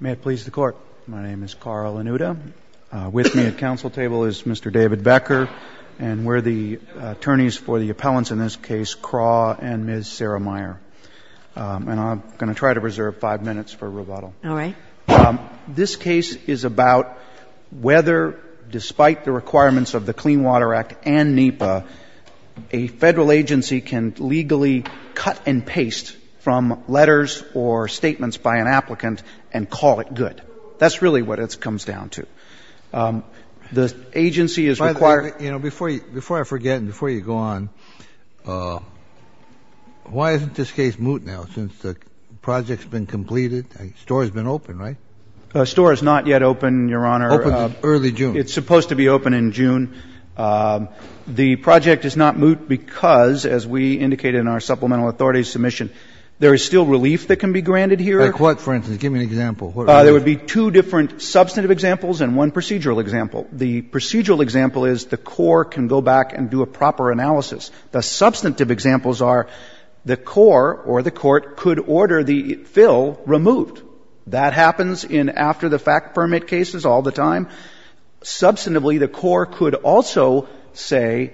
May it please the Court. My name is Carl Anuta. With me at council table is Mr. David Becker and we're the attorneys for the appellants in this case, Craw and Ms. Sarah Meyer. And I'm going to try to reserve five minutes for rebuttal. All right. This case is about whether, despite the requirements of the Clean Water Act and NEPA, a federal agency can legally cut and paste from letters or statements by an applicant and call it good. That's really what it comes down to. The agency is required to By the way, you know, before I forget and before you go on, why isn't this case moot now since the project's been completed? The store's been open, right? The store is not yet open, Your Honor. Open in early June. It's supposed to be open in June. The project is not moot because, as we indicated in our supplemental authority submission, there is still relief that can be granted here. Like what, for instance? Give me an example. There would be two different substantive examples and one procedural example. The procedural example is the Corps can go back and do a proper analysis. The substantive examples are the Corps or the Court could order the fill removed. That happens in after the fact permit cases all the time. Substantively, the Corps could also say,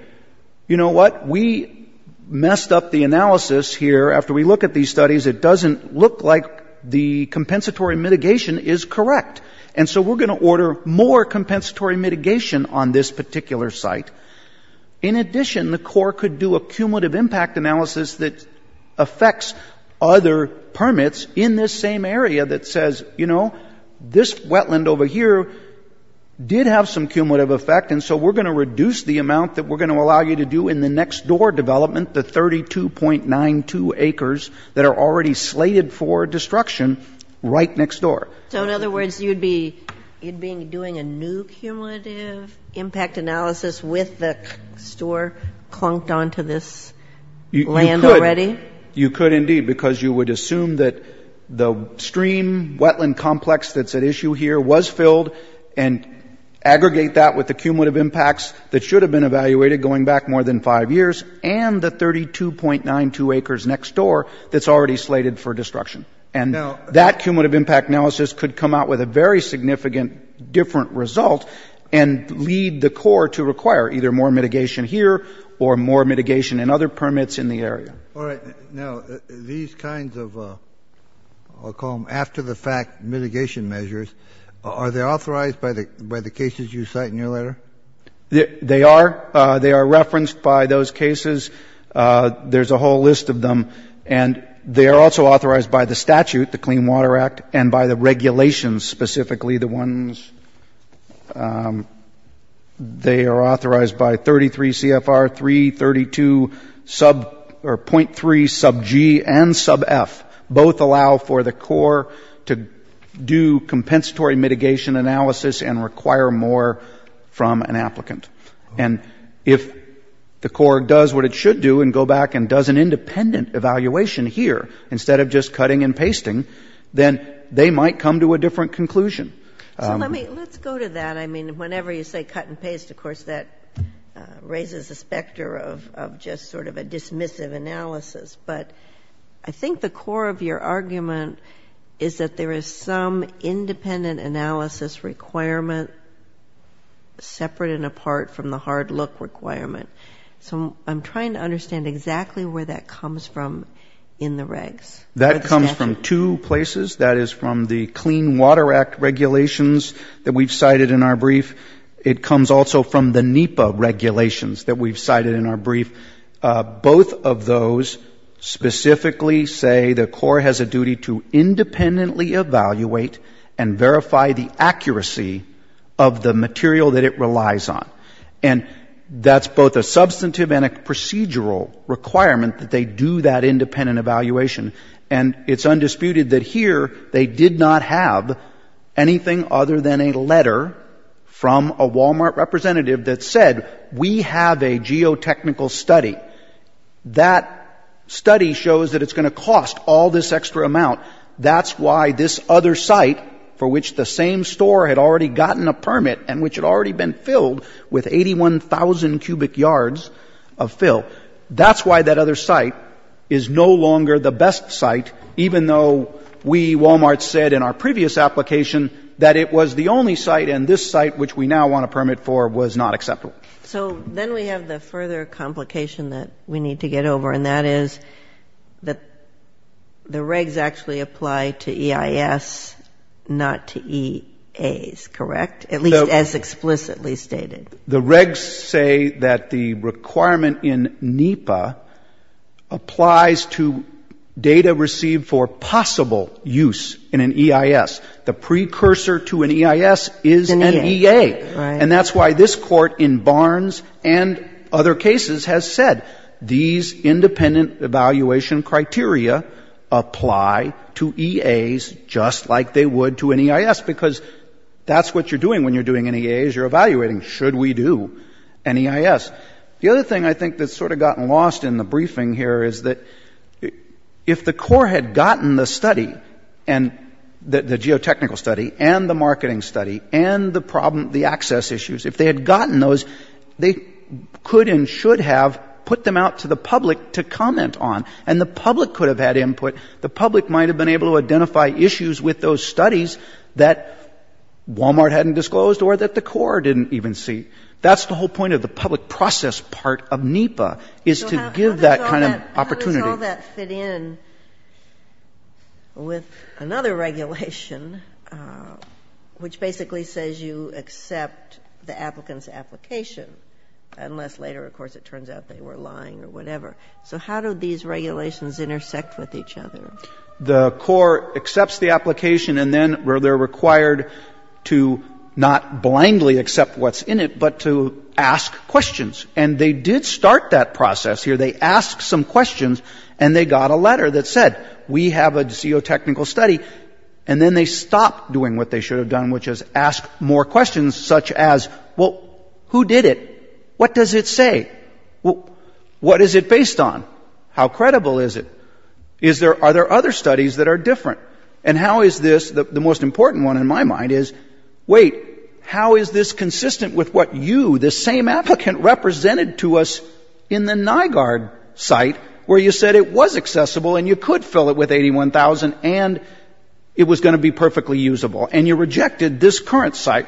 you know what, we messed up the analysis here. After we look at these studies, it doesn't look like the compensatory mitigation is correct. And so we're going to order more compensatory mitigation on this particular site. In addition, the Corps could do a cumulative impact analysis that affects other permits in this same area that says, you know, this wetland over here did have some cumulative effect, and so we're going to reduce the amount that we're going to allow you to do in the next door development, the 32.92 acres that are already slated for destruction right next door. So in other words, you'd be doing a new cumulative impact analysis with the store clunked onto this land already? You could, indeed, because you would assume that the stream wetland complex that's at the cumulative impacts that should have been evaluated going back more than five years and the 32.92 acres next door that's already slated for destruction. And that cumulative impact analysis could come out with a very significant different result and lead the Corps to require either more mitigation here or more mitigation in other permits in the area. All right. Now, these kinds of I'll call them after the fact mitigation measures, are they there? They are. They are referenced by those cases. There's a whole list of them. And they are also authorized by the statute, the Clean Water Act, and by the regulations, specifically the ones they are authorized by, 33 CFR 3, 32.3 sub G and sub F. Both allow for the Corps to do compensatory mitigation analysis and require more from an applicant. And if the Corps does what it should do and go back and does an independent evaluation here instead of just cutting and pasting, then they might come to a different conclusion. So let me let's go to that. I mean, whenever you say cut and paste, of course, that raises the specter of just sort of a dismissive analysis. But I think the core of your argument is that there is some independent analysis requirement separate and apart from the hard look requirement. So I'm trying to understand exactly where that comes from in the regs. That comes from two places. That is from the Clean Water Act regulations that we've cited in our brief. It comes also from the NEPA regulations that we've cited in our brief. Both of those specifically say the Corps has a duty to independently evaluate and verify the accuracy of the material that it relies on. And that's both a substantive and a procedural requirement that they do that independent evaluation. And it's undisputed that here they did not have anything other than a letter from a Wal-Mart representative that said, we have a geotechnical study. That study shows that it's going to cost all this extra amount. That's why this other site for which the same store had already gotten a permit and which had already been filled with 81,000 cubic yards of fill, that's why that other site is no longer the best site, even though we, Wal-Mart, said in our previous application that it was the only site and this site, which we now want a permit for, was not acceptable. So then we have the further complication that we need to get over, and that is that the regs actually apply to EIS, not to EAs, correct? At least as explicitly stated. The regs say that the requirement in NEPA applies to data received for possible use in an EIS. The precursor to an EIS is an EA. And that's why this Court in Barnes and other cases has said these independent evaluation criteria apply to EAs just like they would to an EIS, because that's what you're doing when you're doing an EAs. You're evaluating, should we do an EIS? The other thing I think that's sort of gotten lost in the briefing here is that if the Corps had gotten the study, the geotechnical study, and the marketing study, and the access issues, if they had gotten those, they could and should have put them out to the public to comment on, and the public could have had input. The public might have been able to identify issues with those studies that Wal-Mart hadn't disclosed or that the Corps didn't even see. That's the whole point of the public process part of NEPA, is to give that kind of opportunity. So how does all that fit in with another regulation, which basically says you accept the applicant's application, unless later, of course, it turns out they were lying or whatever. So how do these regulations intersect with each other? The Corps accepts the application, and then they're required to not blindly accept what's in it, but to ask questions. And they did start that process here. They asked some questions, and they got a letter that said, we have a geotechnical study. And then they stopped doing what they should have done, which is ask more questions, such as, well, who did it? What does it say? What is it based on? How credible is it? Are there other studies that are different? And how is this, the most important one in my mind is, wait, how is this consistent with what you, this same applicant, represented to us in the NIGARD site where you said it was accessible and you could fill it with $81,000 and it was going to be perfectly usable, and you rejected this current site,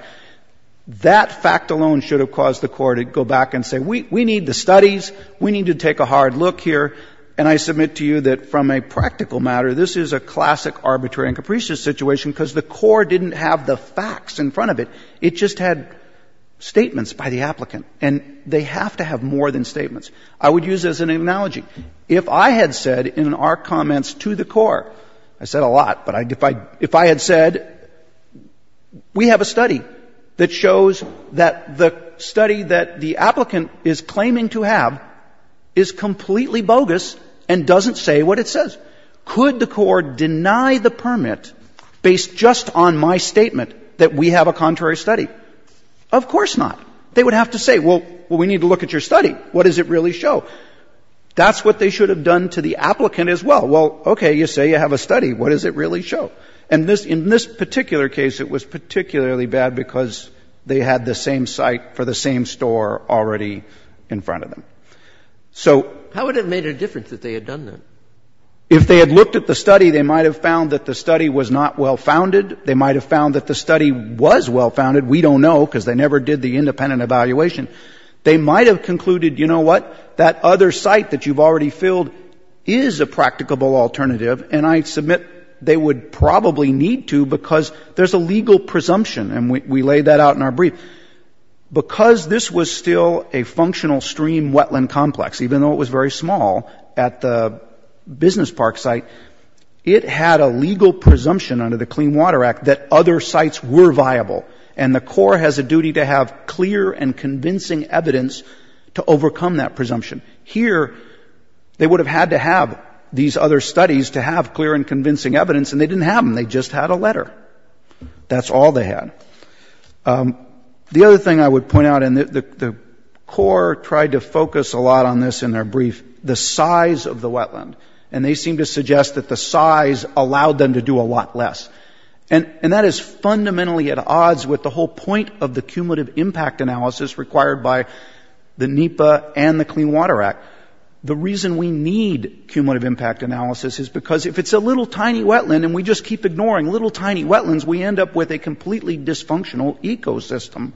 that fact alone should have caused the Corps to go back and say, we need the studies. We need to take a hard look here. And I submit to you that from a practical matter, this is a classic arbitrary and capricious situation because the Corps didn't have the facts in front of it. It just had statements by the applicant. And they have to have more than statements. I would use it as an analogy. If I had said in our comments to the Corps, I said a lot, but if I had said, we have a study that shows that the study that the applicant is claiming to have is completely bogus and doesn't say what it says, could the Corps deny the permit based just on my statement that we have a contrary study? Of course not. They would have to say, well, we need to look at your study. What does it really show? That's what they should have done to the applicant as well. Well, okay, you say you have a study. What does it really show? And in this particular case, it was particularly bad because they had the same site for the same store already in front of them. So — How would it have made a difference that they had done that? If they had looked at the study, they might have found that the study was not well-founded. They might have found that the study was well-founded. We don't know because they never did the independent evaluation. They might have concluded, you know what, that other site that you've already filled is a practicable alternative, and I submit they would probably need to because there's a legal presumption, and we laid that out in our brief. Because this was still a functional stream wetland complex, even though it was very small at the business park site, it had a legal presumption under the Clean Water Act that other sites were viable, and the Corps has a duty to have clear and convincing evidence to overcome that presumption. Here, they would have had to have these other studies to have clear and convincing evidence, and they didn't have them. They just had a letter. That's all they had. The other thing I would point out, and the Corps tried to focus a lot on this in their brief, the size of the wetland, and they seemed to suggest that the size allowed them to do a lot less. And that is fundamentally at odds with the whole point of the cumulative impact analysis required by the NEPA and the Clean Water Act. The reason we need cumulative impact analysis is because if it's a little tiny wetland and we just keep ignoring little tiny wetlands, we end up with a completely dysfunctional ecosystem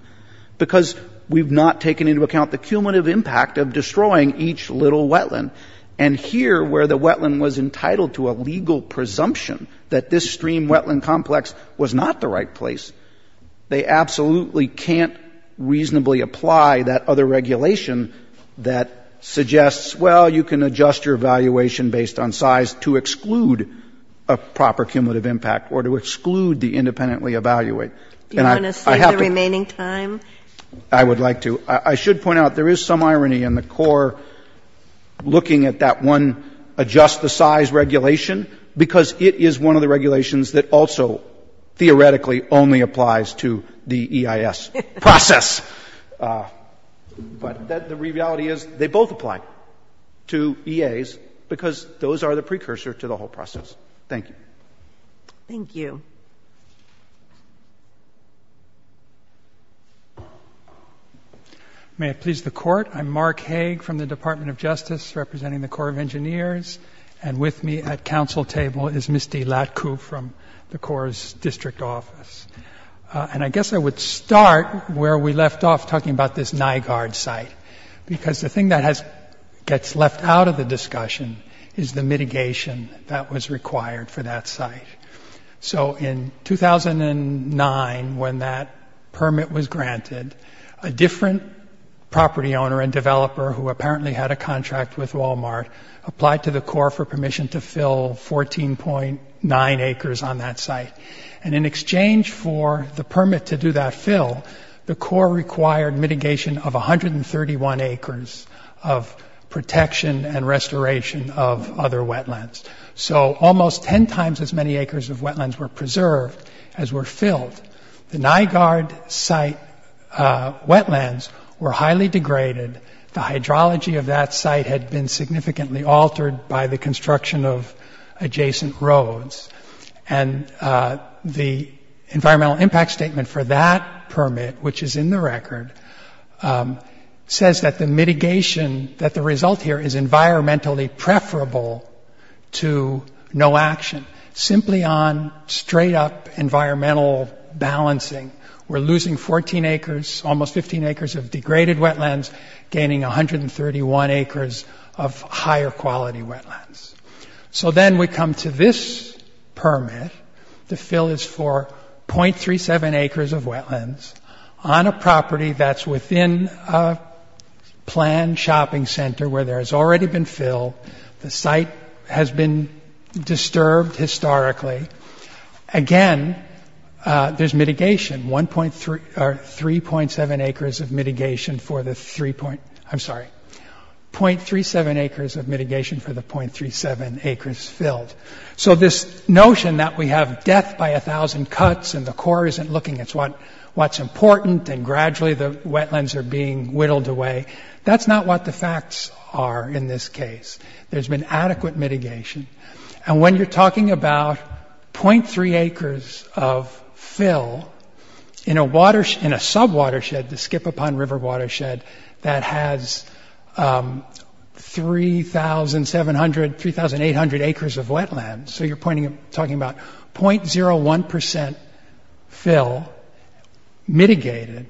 because we've not taken into account the cumulative impact of destroying each little wetland. And here, where the wetland was entitled to a legal presumption that this stream wetland complex was not the right place, they absolutely can't reasonably apply that other regulation that suggests, well, you can adjust your evaluation based on size to exclude a proper cumulative impact or to exclude the independently evaluate. And I have to — Do you want to save the remaining time? I would like to. I should point out, there is some irony in the Corps looking at that one adjust the size regulation because it is one of the regulations that also theoretically only applies to the EIS process. But the reality is they both apply to EAs because those are the precursor to the whole process. Thank you. Thank you. May it please the Court. I'm Mark Haig from the Department of Justice representing the Corps of Engineers. And with me at council table is Misty Latcoup from the Corps' District Office. And I guess I would start where we left off talking about this NIGARD site because the thing that gets left out of the discussion is the mitigation that was required for that granted. A different property owner and developer who apparently had a contract with Walmart applied to the Corps for permission to fill 14.9 acres on that site. And in exchange for the permit to do that fill, the Corps required mitigation of 131 acres of protection and restoration of other wetlands. So almost 10 times as many acres of wetlands were preserved as were filled. The NIGARD site wetlands were highly degraded. The hydrology of that site had been significantly altered by the construction of adjacent roads. And the environmental impact statement for that permit, which is in the record, says that the mitigation, that the environmental balancing, we're losing 14 acres, almost 15 acres of degraded wetlands, gaining 131 acres of higher quality wetlands. So then we come to this permit. The fill is for .37 acres of wetlands on a property that's within a planned shopping center where there has already been fill. The site has been disturbed historically. Again, there's mitigation, 1.3, or 3.7 acres of mitigation for the 3. I'm sorry, .37 acres of mitigation for the .37 acres filled. So this notion that we have death by a thousand cuts and the Corps isn't looking at what's important and gradually the wetlands are being whittled away, that's not what the facts are in this case. There's been adequate mitigation. And when you're talking about .3 acres of fill in a watershed, in a sub-watershed, the Skip-Upon-River watershed, that has 3,700, 3,800 acres of wetlands, so you're pointing, talking about .01% fill mitigated,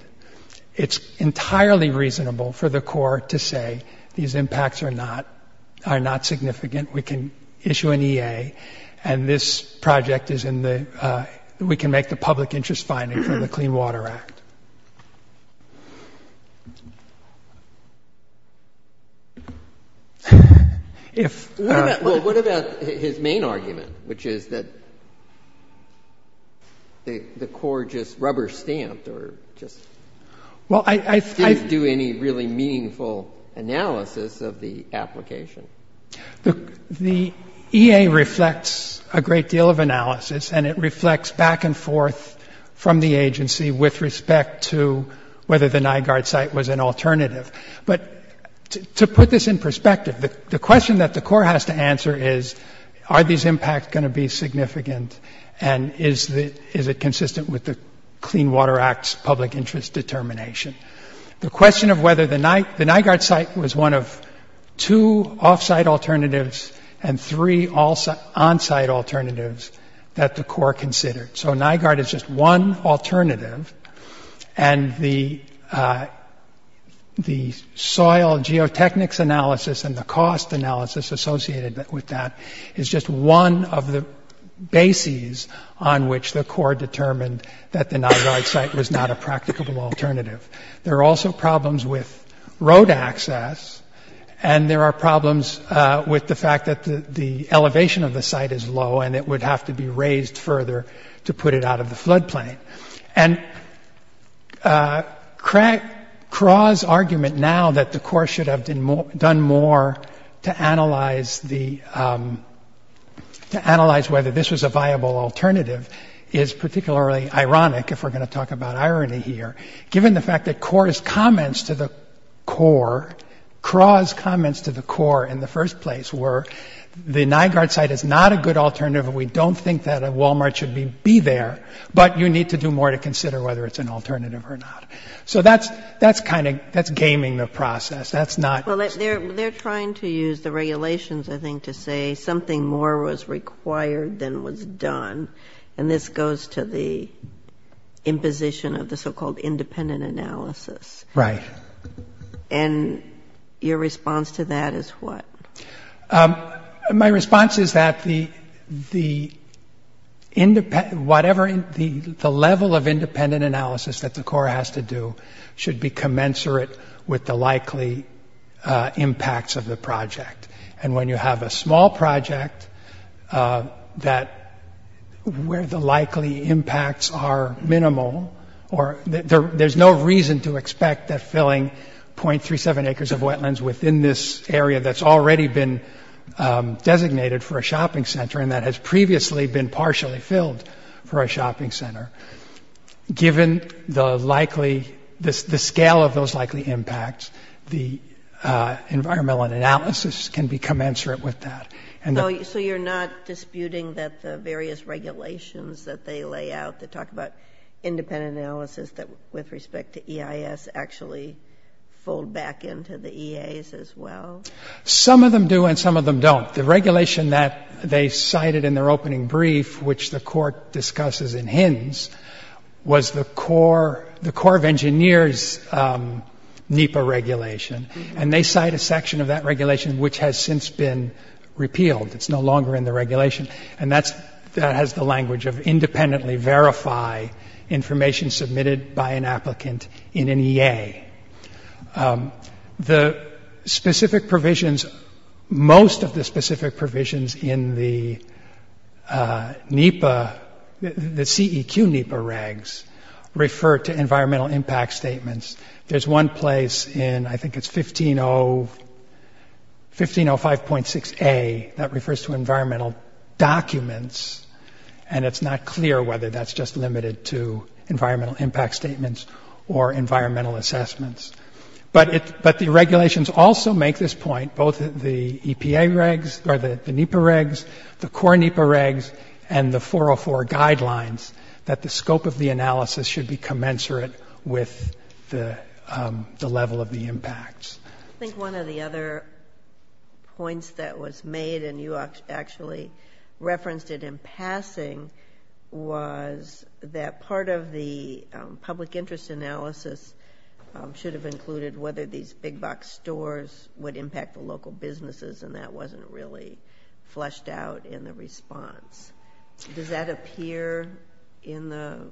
it's entirely reasonable for the Corps to say, these impacts are not significant, we can issue an EA, and this project is in the, we can make the public interest finding for the Clean Water Act. What about his main argument, which is that the Corps just rubber-stamped or just didn't do any really meaningful analysis of the application? The EA reflects a great deal of analysis, and it reflects back and forth from the agency with respect to whether the Nygaard site was an alternative. But to put this in perspective, the question that the Corps has to answer is, are these impacts going to be significant, and is it consistent with the Clean Water Act's public interest determination? The question of whether the Nygaard site was one of two off-site alternatives and three on-site alternatives that the Corps considered. So Nygaard is just one alternative, and the soil geotechnics analysis and the cost analysis associated with that is just one of the basic cases on which the Corps determined that the Nygaard site was not a practicable alternative. There are also problems with road access, and there are problems with the fact that the elevation of the site is low, and it would have to be raised further to put it out of the floodplain. And Craw's argument now that the Corps should have done more to analyze whether this was a viable alternative is particularly ironic, if we're going to talk about irony here, given the fact that Corp's comments to the Corps, Craw's comments to the Corps in the first place were, the Nygaard site is not a good alternative, we don't think that a Wal-Mart should be there, but you need to do more to consider whether it's an alternative or not. So that's kind of — that's gaming the process. That's not — They're trying to use the regulations, I think, to say something more was required than was done, and this goes to the imposition of the so-called independent analysis. Right. And your response to that is what? My response is that the — whatever — the level of independent analysis that the Corps has to do should be commensurate with the likely impacts of the project. And when you have a small project that — where the likely impacts are minimal, or there's no reason to expect that filling 0.37 acres of wetlands within this area that's already been designated for a shopping center and that has previously been partially filled for a shopping center, given the likely — the scale of those likely impacts, the environmental analysis can be commensurate with that. So you're not disputing that the various regulations that they lay out that talk about independent analysis that, with respect to EIS, actually fold back into the EAs as well? Some of them do and some of them don't. The regulation that they cited in their opening brief, which the Court discusses in hints, was the Corps of Engineers NEPA regulation, and they cite a section of that regulation which has since been repealed. It's no longer in the regulation, and that has the language of independently verify information submitted by an applicant in an EA. The specific provisions — most of the specific provisions in the NEPA — the CEQ NEPA regs refer to environmental impact statements. There's one place in — I think it's 1505.6a that refers to environmental documents, and it's not clear whether that's just limited to environmental impact statements or environmental assessments. But the regulations also make this point, both the EPA regs or the NEPA regs, the Corps NEPA regs, and the 404 guidelines, that the scope of the analysis should be commensurate with the level of the impacts. I think one of the other points that was made — and you actually referenced it in passing — was that part of the public interest analysis should have included whether these big-box stores would impact the local businesses, and that wasn't really fleshed out in the response. Does that appear in the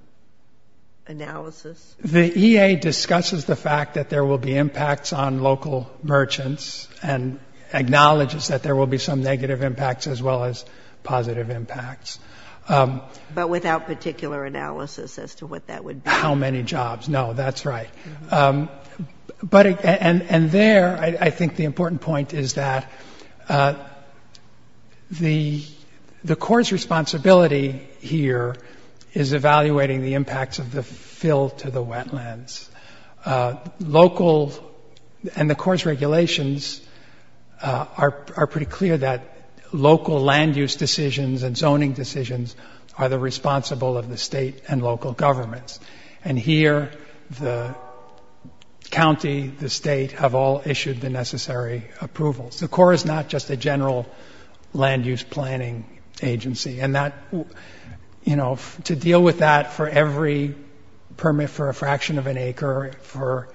analysis? The EA discusses the fact that there will be impacts on local merchants and acknowledges that there will be some negative impacts as well as positive impacts. But without particular analysis as to what that would be? How many jobs? No, that's right. And there, I think the important point is that the Corps' responsibility here is evaluating the impacts of the fill to the wetlands. Local — and are pretty clear that local land-use decisions and zoning decisions are the responsible of the state and local governments. And here, the county, the state, have all issued the necessary approvals. The Corps is not just a general land-use planning agency. And that — you know, to deal with that for every permit for a fraction of an acre for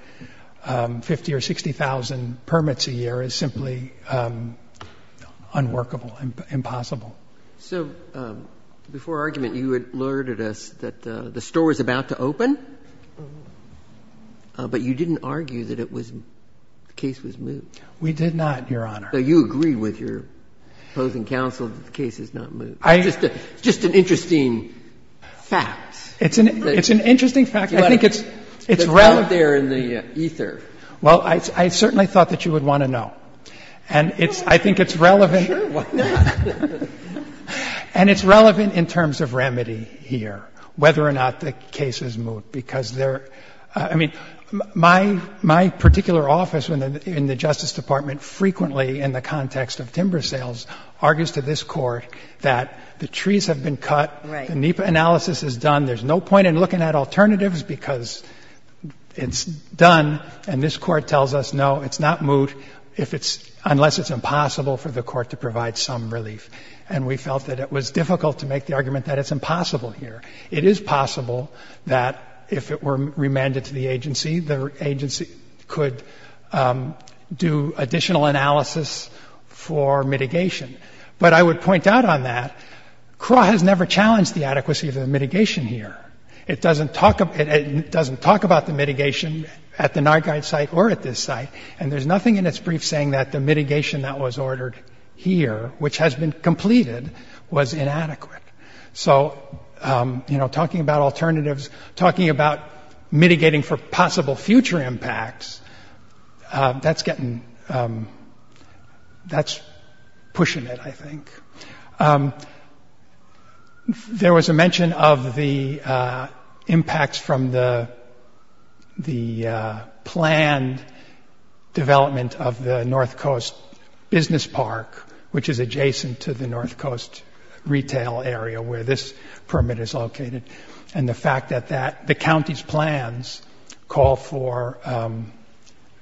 50,000 or 60,000 permits a year is simply unworkable, impossible. So before argument, you had alerted us that the store was about to open, but you didn't argue that it was — the case was moved. We did not, Your Honor. So you agree with your opposing counsel that the case is not moved? I — It's just an interesting fact. It's an — it's an interesting fact. I think it's — it's rather — It's out there in the ether. Well, I certainly thought that you would want to know. And it's — I think it's relevant — Sure, why not? And it's relevant in terms of remedy here, whether or not the case is moved, because there — I mean, my particular office in the Justice Department frequently, in the context of timber sales, argues to this Court that the trees have been cut, the NEPA analysis is done, there's no point in looking at alternatives because it's done, and this Court tells us, no, it's not moved if it's — unless it's impossible for the Court to provide some relief. And we felt that it was difficult to make the argument that it's impossible here. It is possible that if it were remanded to the agency, the agency could do additional analysis for mitigation. But I would point out on that, CRAW has never challenged the adequacy of the mitigation here. It doesn't talk — it doesn't talk about the mitigation at the Nargide site or at this site, and there's nothing in its brief saying that the mitigation that was ordered here, which has been completed, was inadequate. So you know, talking about alternatives, talking about mitigating for possible future impacts, that's getting — that's pushing it, I think. There was a mention of the impacts from the planned development of the North Coast Business Park, which is adjacent to the North Coast retail area where this permit is located, and the fact that that — the county's plans call for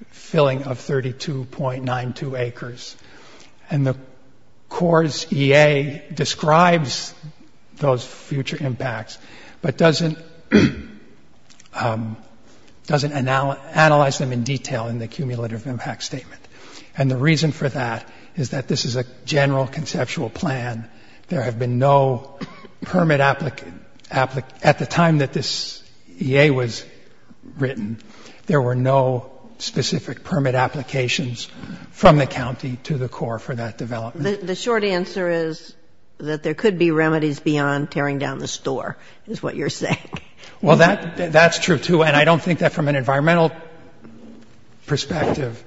filling of 32.92 acres. And the CORE's EA describes those future impacts, but doesn't analyze them in detail in the cumulative impact statement. And the reason for that is that this is a general conceptual plan. There have been no permit — at the time that this EA was written, there were no specific permit applications from the county to the CORE for that development. The short answer is that there could be remedies beyond tearing down the store, is what you're saying. Well, that's true, too, and I don't think that from an environmental perspective,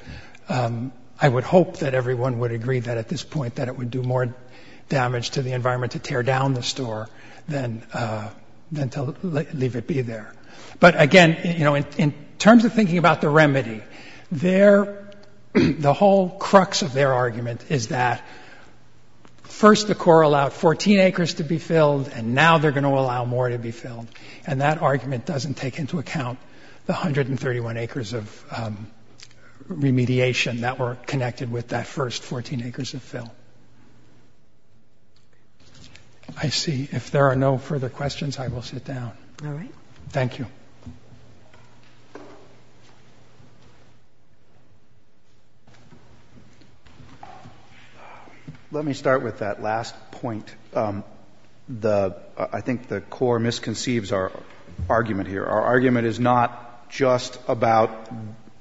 I would hope that everyone would agree that at this point that it would do more damage to the environment to tear down the store than to leave it be there. But again, you know, in terms of thinking about the remedy, their — the whole crux of their argument is that first the CORE allowed 14 acres to be filled, and now they're going to allow more to be filled. And that argument doesn't take into account the 131 acres of remediation that were connected with that first 14 acres of fill. I see. If there are no further questions, I will sit down. Thank you. Let me start with that last point. The — I think the CORE misconceives our argument here. Our argument is not just about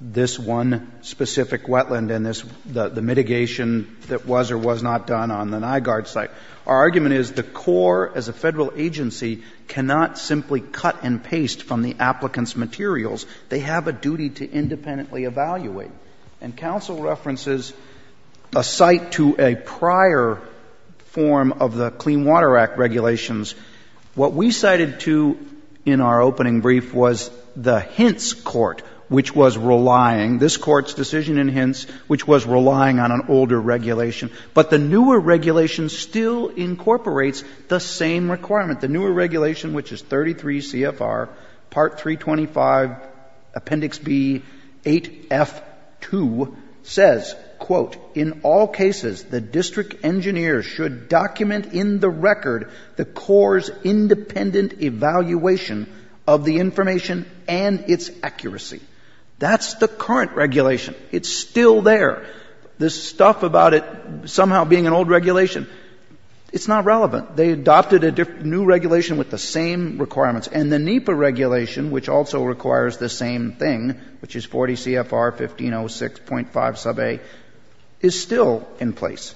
this one specific wetland and this — the mitigation that was or was not done on the Nygaard site. Our argument is the CORE, as a federal agency, cannot simply cut and paste from the applicants' materials. They have a duty to independently evaluate. And Council references a site to a prior form of the Clean Water Act regulations. What we cited, too, in our opening brief was the Hintz Court, which was relying — this Court's decision in Hintz, which was relying on an older regulation. But the newer regulation still incorporates the same requirement. The newer regulation, which is 33 CFR, Part 325, Appendix B, 8F2, says, quote, In all cases, the district engineer should document in the record the CORE's independent evaluation of the information and its accuracy. That's the current regulation. It's still there. This stuff about it somehow being an old regulation, it's not relevant. They adopted a new regulation with the same requirements. And the NEPA regulation, which also requires the same thing, which is 40 CFR, 1506.5 sub is still in place.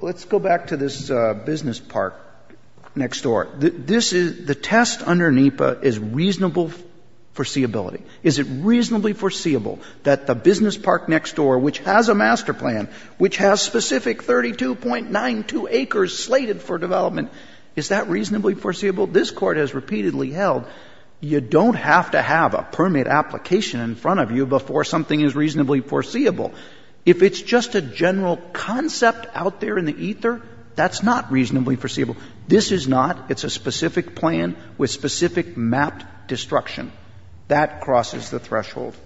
Let's go back to this business park next door. This is — the test under NEPA is reasonable foreseeability. Is it reasonably foreseeable that the business park next door, which has a master plan, which has specific 32.92 acres slated for development, is that reasonably foreseeable? This Court has repeatedly held you don't have to have a permit application in front of you before something is reasonably foreseeable. If it's just a general concept out there in the ether, that's not reasonably foreseeable. This is not. It's a specific plan with specific mapped destruction. That crosses the threshold.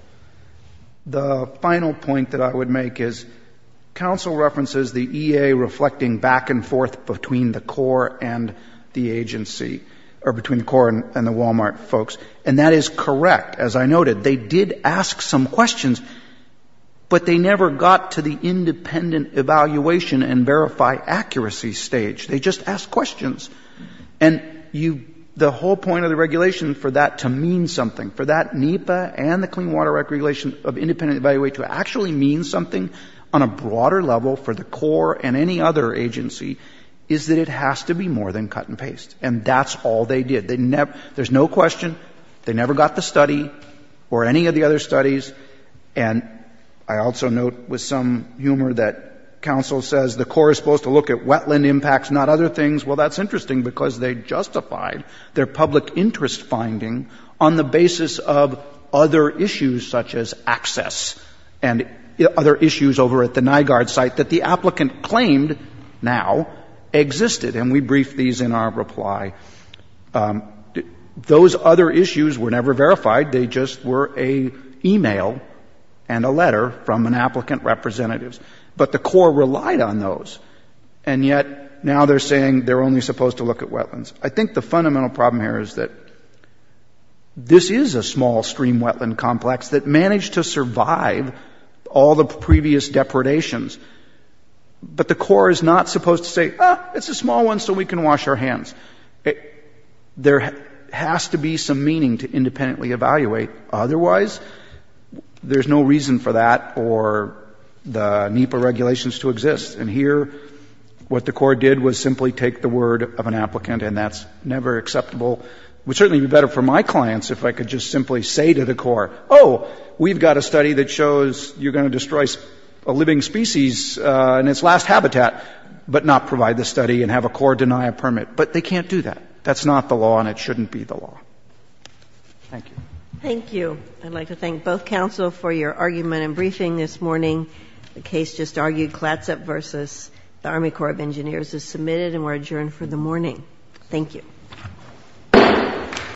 The final point that I would make is, counsel references the EA reflecting back and forth between the CORE and the agency — or between the CORE and the Walmart folks. And that is correct. As I noted, they did ask some questions, but they never got to the independent evaluation and verify accuracy stage. They just asked questions. And you — the whole point of the regulation for that to mean something, for that NEPA and the Clean Water Act regulation of independent evaluation to actually mean something on a broader level for the CORE and any other agency, is that it has to be more than cut and paste. And that's all they did. They never — there's no question. They never got the study or any of the other studies. And I also note with some humor that counsel says the CORE is supposed to look at wetland impacts, not other things. Well, that's interesting because they justified their public interest finding on the basis of other issues such as access and other issues over at the NIGARD site that the applicant claimed now existed. And we briefed these in our reply. Those other issues were never verified. They just were an email and a letter from an applicant representative. But the CORE relied on those. And yet, now they're saying they're only supposed to look at wetlands. I think the fundamental problem here is that this is a small stream wetland complex that managed to survive all the previous depredations, but the CORE is not supposed to say, ah, it's a small one, so we can wash our hands. There has to be some meaning to independently evaluate. Otherwise, there's no reason for that or the NEPA regulations to exist. And here, what the CORE did was simply take the word of an applicant, and that's never acceptable. It would certainly be better for my clients if I could just simply say to the CORE, oh, we've got a study that shows you're going to destroy a living species in its last habitat, but not provide the study, and have a CORE deny a permit. But they can't do that. That's not the law, and it shouldn't be the law. Thank you. Thank you. I'd like to thank both counsel for your argument and briefing this morning. The case just argued, Klatsop v. the Army Corps of Engineers, is submitted and we're adjourned for the morning. Thank you.